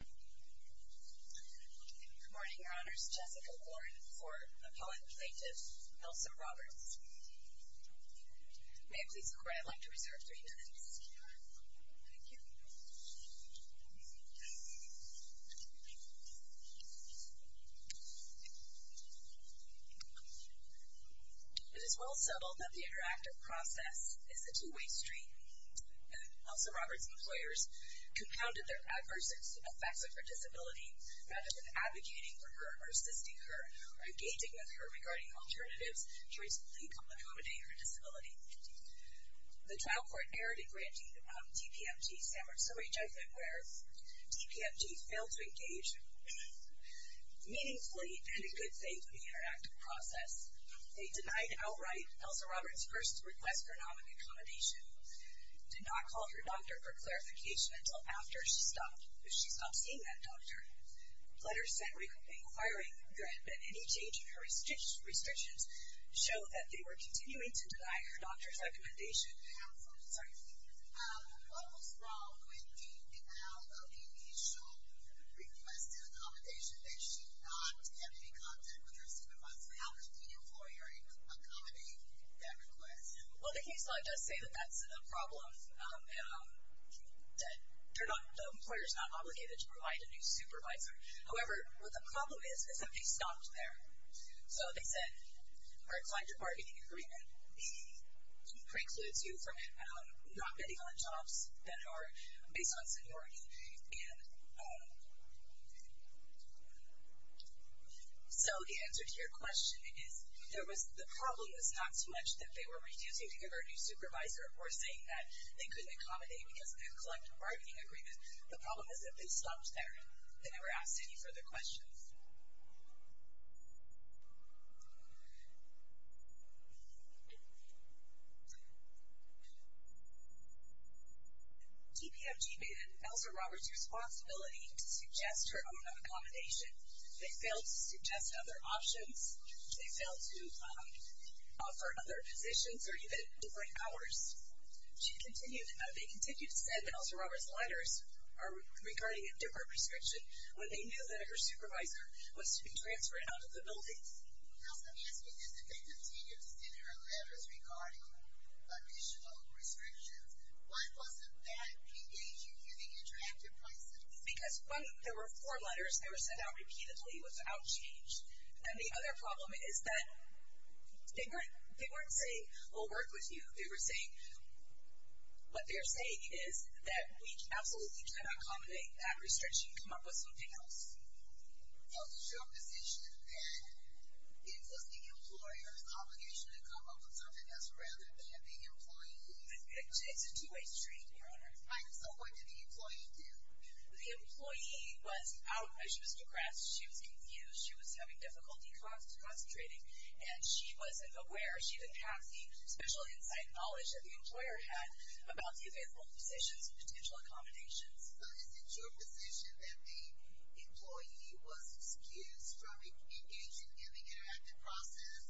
Good morning, Your Honors. Jessica Warren for Appellant Plaintiff Nelson Roberts. May I please require I like to reserve three minutes? Thank you. It is well settled that the interactive process is a two-way street. Nelson Roberts' employers compounded their adverse effects of her disability rather than advocating for her, or assisting her, or engaging with her regarding alternatives to reasonably accommodate her disability. The trial court erred in granting TPMG San Marzulli judgment, where TPMG failed to engage meaningfully and in good faith in the interactive process. They denied outright Nelson Roberts' first request for nominate accommodation, did not call her doctor for clarification until after she stopped seeing that doctor. Letters sent inquiring that any change in her restrictions show that they were continuing to deny her doctor's recommendation. What was wrong with the denial of the initial request and accommodation that she not have any contact with her supervisor? How could the employer accommodate that request? Well, the case law does say that that's a problem, that the employer's not obligated to provide a new supervisor. However, what the problem is, is that they stopped there. So they said, all right, find your bargaining agreement. The precludes you from not betting on jobs that are based on seniority. And so the answer to your question is, the problem is not so much that they were refusing to give her a new supervisor or saying that they couldn't accommodate because of that collective bargaining agreement. The problem is that they stopped there. They never asked any further questions. TPMG made it Elsa Roberts' responsibility to suggest her own accommodation. They failed to suggest other options. They failed to offer other positions or even different hours. They continued to send Elsa Roberts letters regarding a different prescription that was to be transferred out of the building. Elsa, may I ask you this? If they continued to send her letters regarding additional restrictions, why wasn't that PDA to using interactive pricing? Because when there were four letters, they were sent out repeatedly without change. And the other problem is that they weren't saying, we'll work with you. They were saying, what they're saying is that we absolutely cannot accommodate that restriction. She can come up with something else. So it's your position that it was the employer's obligation to come up with something else rather than the employee? It's a two-way street, Your Honor. So what did the employee do? The employee was out. She was depressed. She was confused. She was having difficulty concentrating. And she wasn't aware. She didn't have the special insight and knowledge that the employer had about the available positions and potential accommodations. So is it your position that the employee was excused from engaging in the interactive process,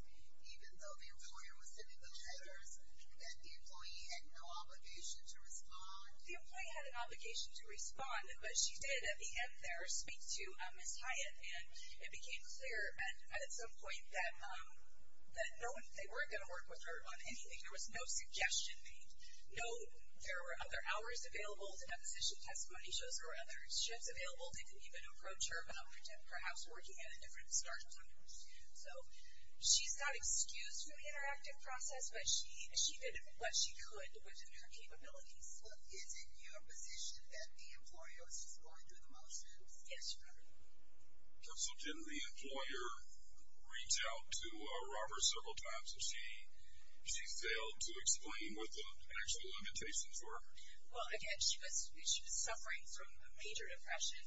even though the employer was sending those letters, that the employee had no obligation to respond? The employee had an obligation to respond. But she did, at the end there, speak to Ms. Hyatt. And it became clear at some point that they weren't going to work with her on anything. There was no suggestion made. No, there were other hours available. The deposition testimony shows there were other shifts available. They didn't even approach her about perhaps working at a different startup or different student. So she's not excused from the interactive process, but she did what she could within her capabilities. Is it your position that the employer was just going through the motions? Yes, Your Honor. So didn't the employer reach out to Robert several times? So she failed to explain what the actual limitations were? Well, again, she was suffering from a major depression.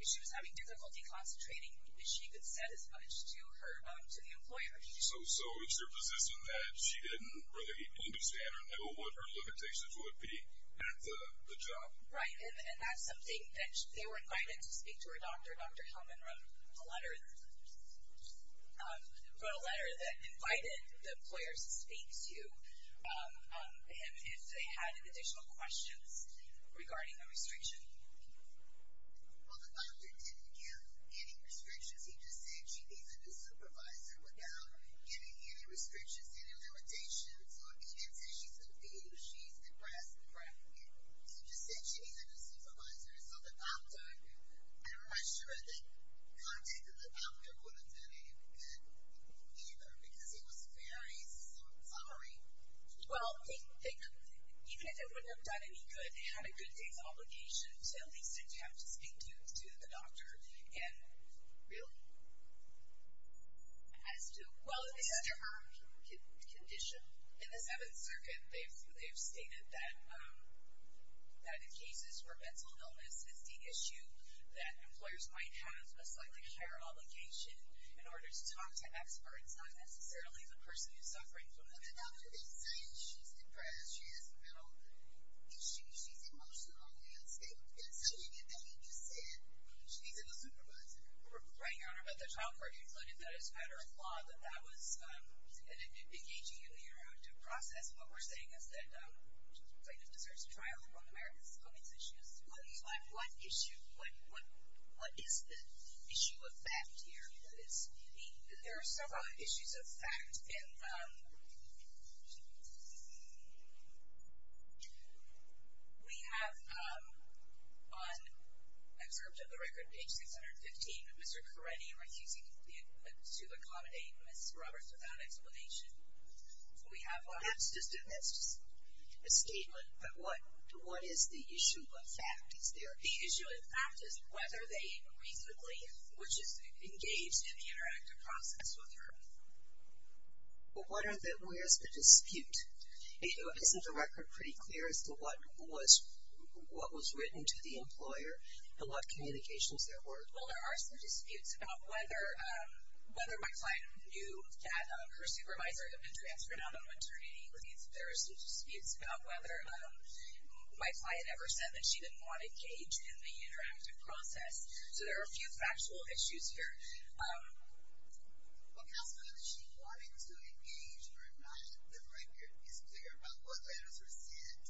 She was having difficulty concentrating. She didn't say as much to the employer. So it's your position that she didn't really understand or know what her limitations would be at the job? Right, and that's something that they were invited to speak to her doctor. Dr. Hellman wrote a letter that invited the employers to speak to him if they had additional questions regarding the restriction. Well, the doctor didn't give any restrictions. He just said she isn't a supervisor without giving any restrictions, any limitations. He didn't say she's a thief. She's depressed. He just said she isn't a supervisor. So the doctor, I'm not sure that contacting the doctor would have been any good either because he was very sorry. Well, even if it wouldn't have done any good, he had a good day's obligation to at least attempt to speak to the doctor as to her condition. In the Seventh Circuit, they've stated that in cases where mental illness is the issue, that employers might have a slightly higher obligation in order to talk to experts, not necessarily the person who's suffering from it. The doctor didn't say she's depressed, she has no issues. She's emotional on the outscape. That's how you get that. Right, Your Honor. But the trial court concluded that it's matter of law that that was engaging in the interactive process. What we're saying is that it deserves a trial for one of America's common issues. What is the issue of fact here? There are several issues of fact. And we have on excerpt of the record, page 615, Mr. Carretti refusing to accommodate Ms. Roberts without explanation. So we have on it. That's just a statement, but what is the issue of fact? The issue of fact is whether they reasonably, which is engaged in the interactive process with her. Well, where is the dispute? Isn't the record pretty clear as to what was written to the employer and what communications there were? Well, there are some disputes about whether my client knew that her supervisor had been transferred out on maternity leave. There are some disputes about whether my client ever said that she didn't want to engage in the interactive process. So there are a few factual issues here. Well, counsel, whether she wanted to engage or not, the record is clear about what letters were sent,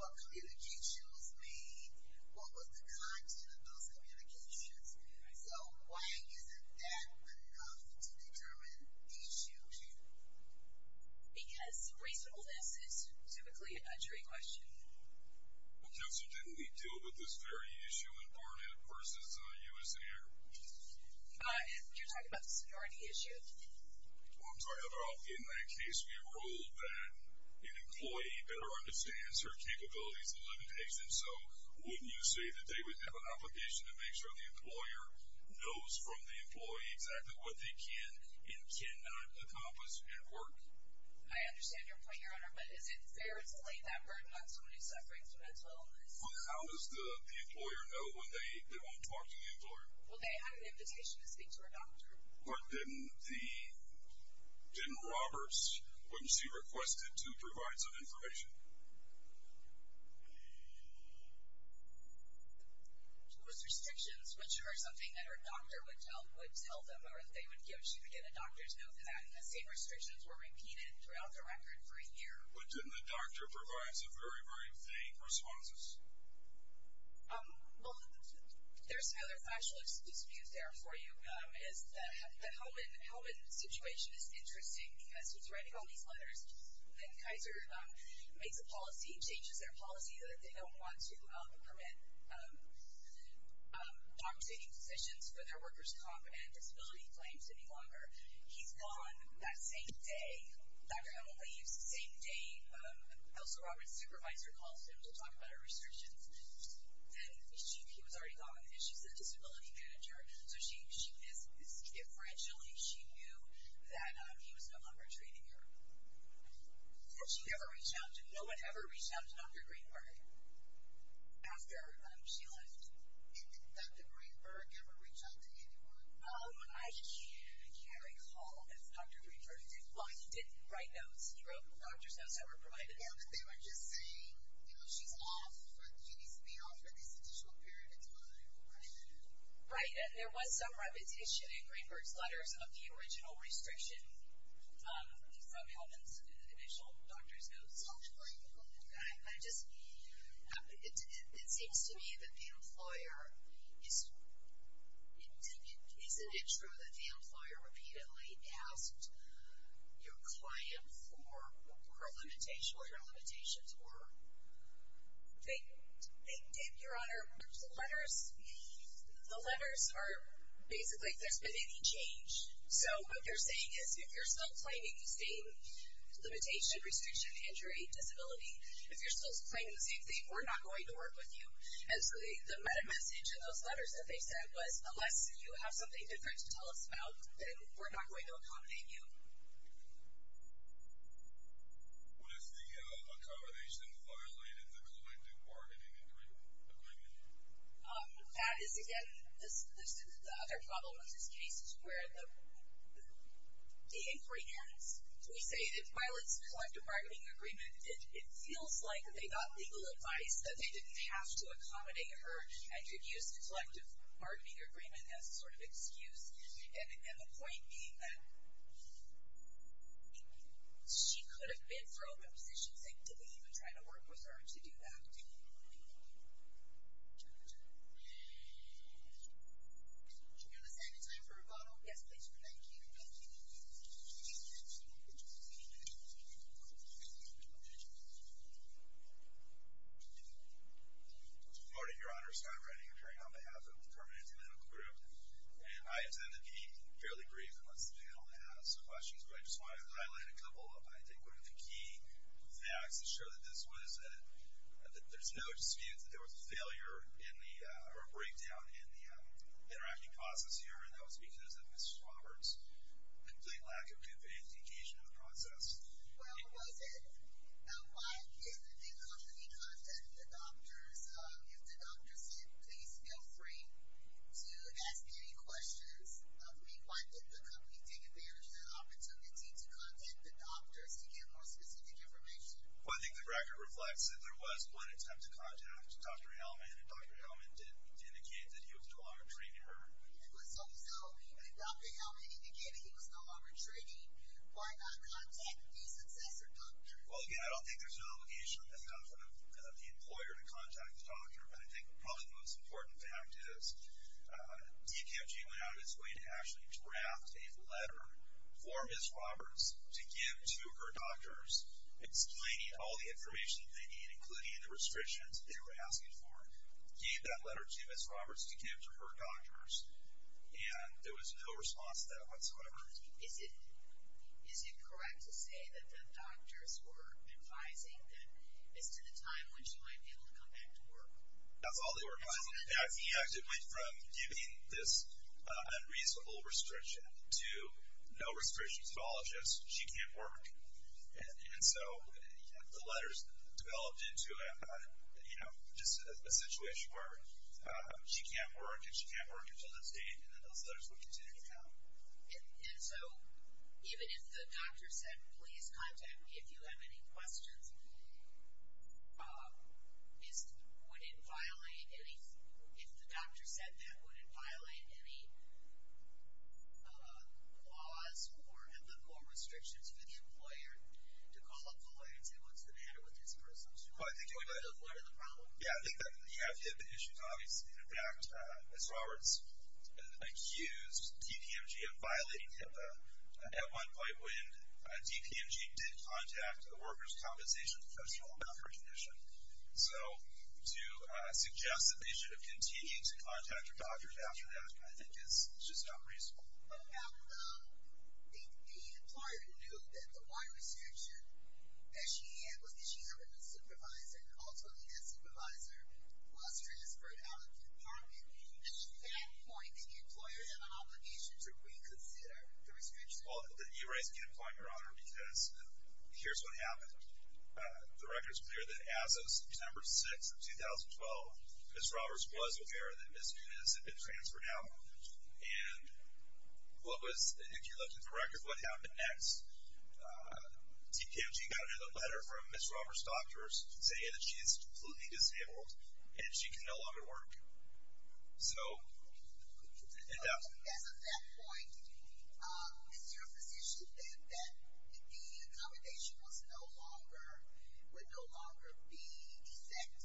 what communications were made, what was the content of those communications. So why isn't that enough to determine the issue? Because reasonableness is typically a jury question. Well, counsel, didn't we deal with this very issue in Barnett versus U.S. Air? You're talking about the seniority issue? Well, I'm talking about in that case we ruled that an employee better understands her capabilities and limitation. So wouldn't you say that they would have an obligation to make sure the employer knows from the employee exactly what they can and cannot accomplish at work? I understand your point, Your Honor, but is it fair to lay that burden on somebody suffering from mental illness? Well, how does the employer know when they won't talk to the employer? Well, they have an invitation to speak to her doctor. But didn't Roberts, wouldn't she request it to provide some information? Those restrictions, which are something that her doctor would tell them or that they would give to get a doctor to know that, and the same restrictions were repeated throughout the record for a year. But didn't the doctor provide some very, very vague responses? Well, there's another factual excuse there for you. The Hellman situation is interesting because he's writing all these letters, and Kaiser makes a policy, changes their policy, that they don't want to permit long-standing positions for their workers' comp and disability claims any longer. He's gone that same day. Dr. Hellman leaves the same day Elsa Roberts' supervisor calls him to talk about her restrictions. Then he was already gone, and she's the disability manager. So she is differentially, she knew that he was no longer training her. Did she ever reach out to, no one ever reached out to Dr. Greenberg after she left? Did Dr. Greenberg ever reach out to anyone? I can't recall if Dr. Greenberg did. Well, he did write notes, he wrote doctor's notes that were provided. Yeah, but they were just saying, you know, she's off, she needs to be off for this additional period of time. Right, and there was some repetition in Greenberg's letters of the original restriction from Hellman's initial doctor's notes. I just, it seems to me that the employer, isn't it true that the employer repeatedly asked your client for her limitations, what her limitations were? They did, Your Honor. The letters, the letters are basically, there's been any change. So what they're saying is, if you're still claiming the same limitation, restriction, injury, disability, if you're still claiming the same thing, we're not going to work with you. And so the message in those letters that they sent was, unless you have something different to tell us about, then we're not going to accommodate you. What if the accommodation violated the collective bargaining agreement? That is, again, the other problem with this case is where the inquiry ends. We say that violates the collective bargaining agreement. It feels like they got legal advice that they didn't have to accommodate her and could use the collective bargaining agreement as sort of excuse. And the point being that she could have been thrown in positions that didn't even try to work with her to do that. And do we have a second time for rebuttal? Yes, please. Thank you. Thank you. Thank you. Thank you. Thank you. Thank you. Thank you. Thank you. Thank you. Good morning, Your Honor. Scott Redding, appearing on behalf of the Permanente Medical Group. And I intend to be fairly brief unless the panel has some questions, but I just wanted to highlight a couple. I think one of the key facts to show that there's no dispute that there was a failure or a breakdown in the interacting process here, and that was because of Ms. Roberts' complete lack of good vantage occasion in the process. Well, was it? Why didn't the company contact the doctors? If the doctors did, please feel free to ask any questions of me. Why didn't the company take advantage of the opportunity to contact the doctors to get more specific information? Well, I think the record reflects that there was one attempt to contact Dr. Hellman, and Dr. Hellman did indicate that he was no longer training her. So, no, even Dr. Hellman indicated he was no longer training. Why not contact the successor doctor? Well, again, I don't think there's an obligation on behalf of the employer to contact the doctor, but I think probably the most important fact is DKFG went out its way to actually draft a letter for Ms. Roberts to give to her doctors, explaining all the information they need, including the restrictions they were asking for, gave that letter to Ms. Roberts to give to her doctors, and there was no response to that whatsoever. Is it correct to say that the doctors were advising that it's to the time when she might be able to come back to work? That's all they were advising. Yeah, I think it went from giving this unreasonable restriction to no restrictions at all, just she can't work. And so the letters developed into, you know, just a situation where she can't work, and she can't work until that date, and then those letters would continue to come. And so even if the doctor said, please contact me if you have any questions, would it violate any – if the doctor said that, would it violate any laws or restrictions for the employer to call the employer and say what's the matter with this person? Well, I think – What are the problems? Yeah, I think that you have HIPAA issues, obviously. In fact, Ms. Roberts accused DPMG of violating HIPAA at one point when DPMG did contact a workers' compensation professional about her condition. So to suggest that they should have continued to contact her doctors after that I think is just unreasonable. The employer knew that the Y restriction that she had was that she had a new supervisor, and ultimately that supervisor was transferred out of the department. Is that point that the employer had an obligation to reconsider the restriction? Well, you raise a good point, Your Honor, because here's what happened. The record's clear that as of September 6th of 2012, Ms. Roberts was aware that Ms. Nunez had been transferred out. And what was – if you're looking for records of what happened next, DPMG got a letter from Ms. Roberts' doctors saying that she is completely disabled and she can no longer work. So – As of that point, is there a position then that the accommodation was no longer – would no longer be exempt?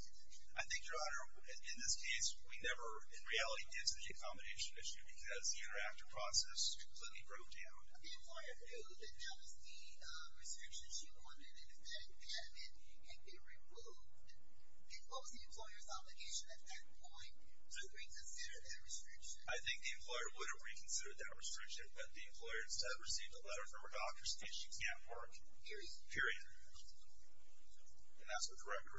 I think, Your Honor, in this case, we never in reality did see the accommodation issue because the interactive process completely broke down. The employer knew that that was the restriction she wanted, and instead had it be removed. And what was the employer's obligation at that point to reconsider that restriction? I think the employer would have reconsidered that restriction, but the employer instead received a letter from her doctors saying she can't work. Period. Period. And that's what the record reflects. And then shortly after that, Ms. Roberts said she didn't want to engage in the interactive process and that she's now permanently disabled. So there was really nowhere for the employer to go at that point. Unless the panel has any other questions. Thank you. I'm just curious about your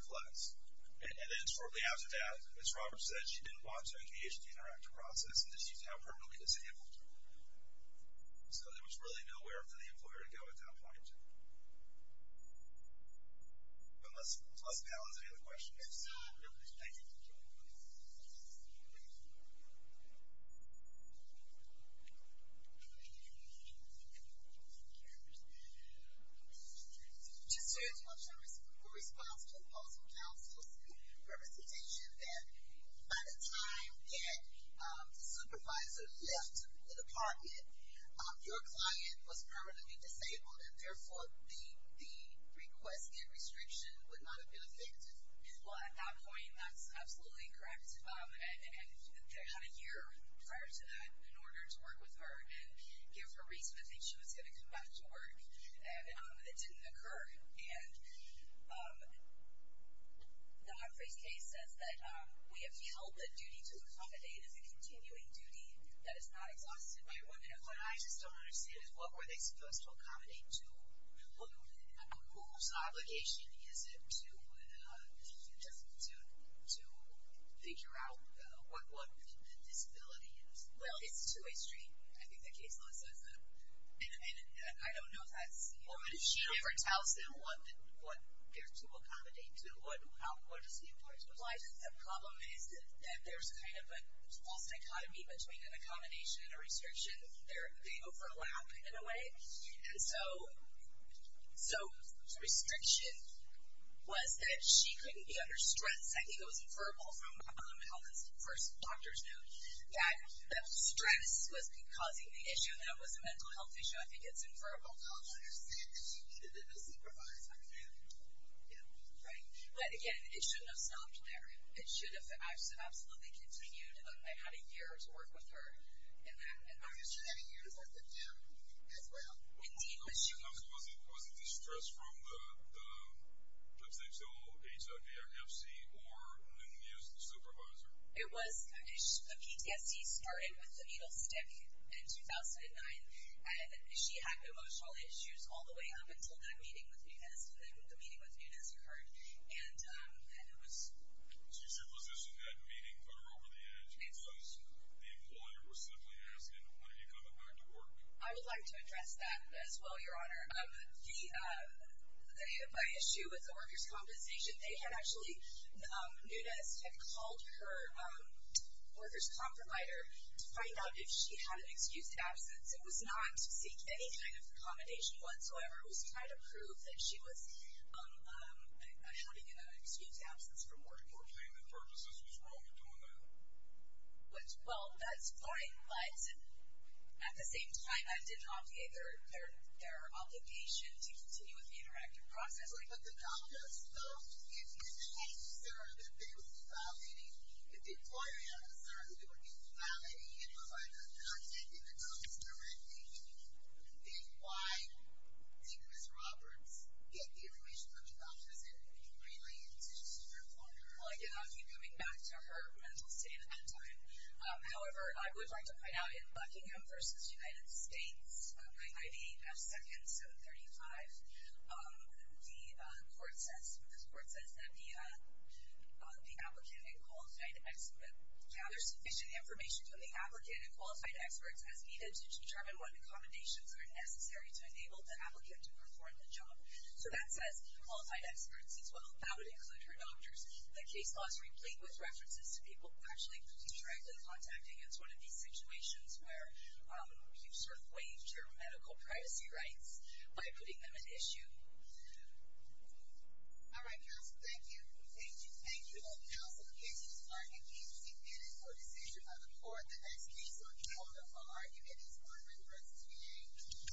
response to the possible counsel's representation that by the time that the supervisor left the department, your client was permanently disabled and, therefore, the request and restriction would not have been effective. Well, at that point, that's absolutely correct. And they had a year prior to that in order to work with her and give her reason to think she was going to come back to work. And it didn't occur. And the Hartford case says that we have held the duty to accommodate as a continuing duty that is not exhausted by women. What I just don't understand is what were they supposed to accommodate to? Whose obligation is it to figure out what the disability is? Well, it's a two-way street. I think that case lists as a minimum. And I don't know if that's the issue. Well, but if she never tells them what they're to accommodate to, what does it imply to them? The problem is that there's kind of a false dichotomy between an accommodation and a restriction. They overlap in a way. And so restriction was that she couldn't be under stress. And second, it was inferable from the first doctor's note that stress was causing the issue, and that it was a mental health issue. I think it's inferable. I don't understand. She didn't supervise her family. Yeah. Right. But, again, it shouldn't have stopped there. It should have absolutely continued. And they had a year to work with her in that. Obviously, that a year is worth of time as well. Indeed. Was it distress from the potential HIV FC or new supervisor? It was. The PTSD started with the needle stick in 2009. And she had emotional issues all the way up until that meeting with Nunez, when the meeting with Nunez occurred. And it was... So you supposition that meeting put her over the edge because the employer was simply asking, why don't you come back to work? I would like to address that as well, Your Honor. The HIPAA issue with the workers' compensation, they had actually... Nunez had called her workers' comp provider to find out if she had an excused absence. It was not to seek any kind of accommodation whatsoever. It was to try to prove that she was having an excused absence from work or payment purposes was wrong to do that. Well, that's fine. But at the same time, I did obviate their obligation to continue with the interactive process. But the doctors, though, if you had the answer that they were invalidating, if the employer had an answer that they were invalidating, and provided a document in the notice directly, then why did Ms. Roberts get the information from the doctors and relay it to her employer? Well, again, I'll keep coming back to her mental state at that time. However, I would like to point out in Buckingham v. United States, I.D. F. Second 735, the court says that the applicant and qualified expert gathers sufficient information from the applicant and qualified experts as needed to determine what accommodations are necessary to enable the applicant to perform the job. So that says qualified experts as well. That would include her doctors. The case law is replete with references to people who actually could be directly contacted against one of these situations where you've sort of waived your medical privacy rights by putting them at issue. All right, counsel, thank you. Thank you. Thank you, then, counsel. The case is adjourned. Thank you. Thank you for your decision by the court. The next case on the order for argument is order in verse 3A.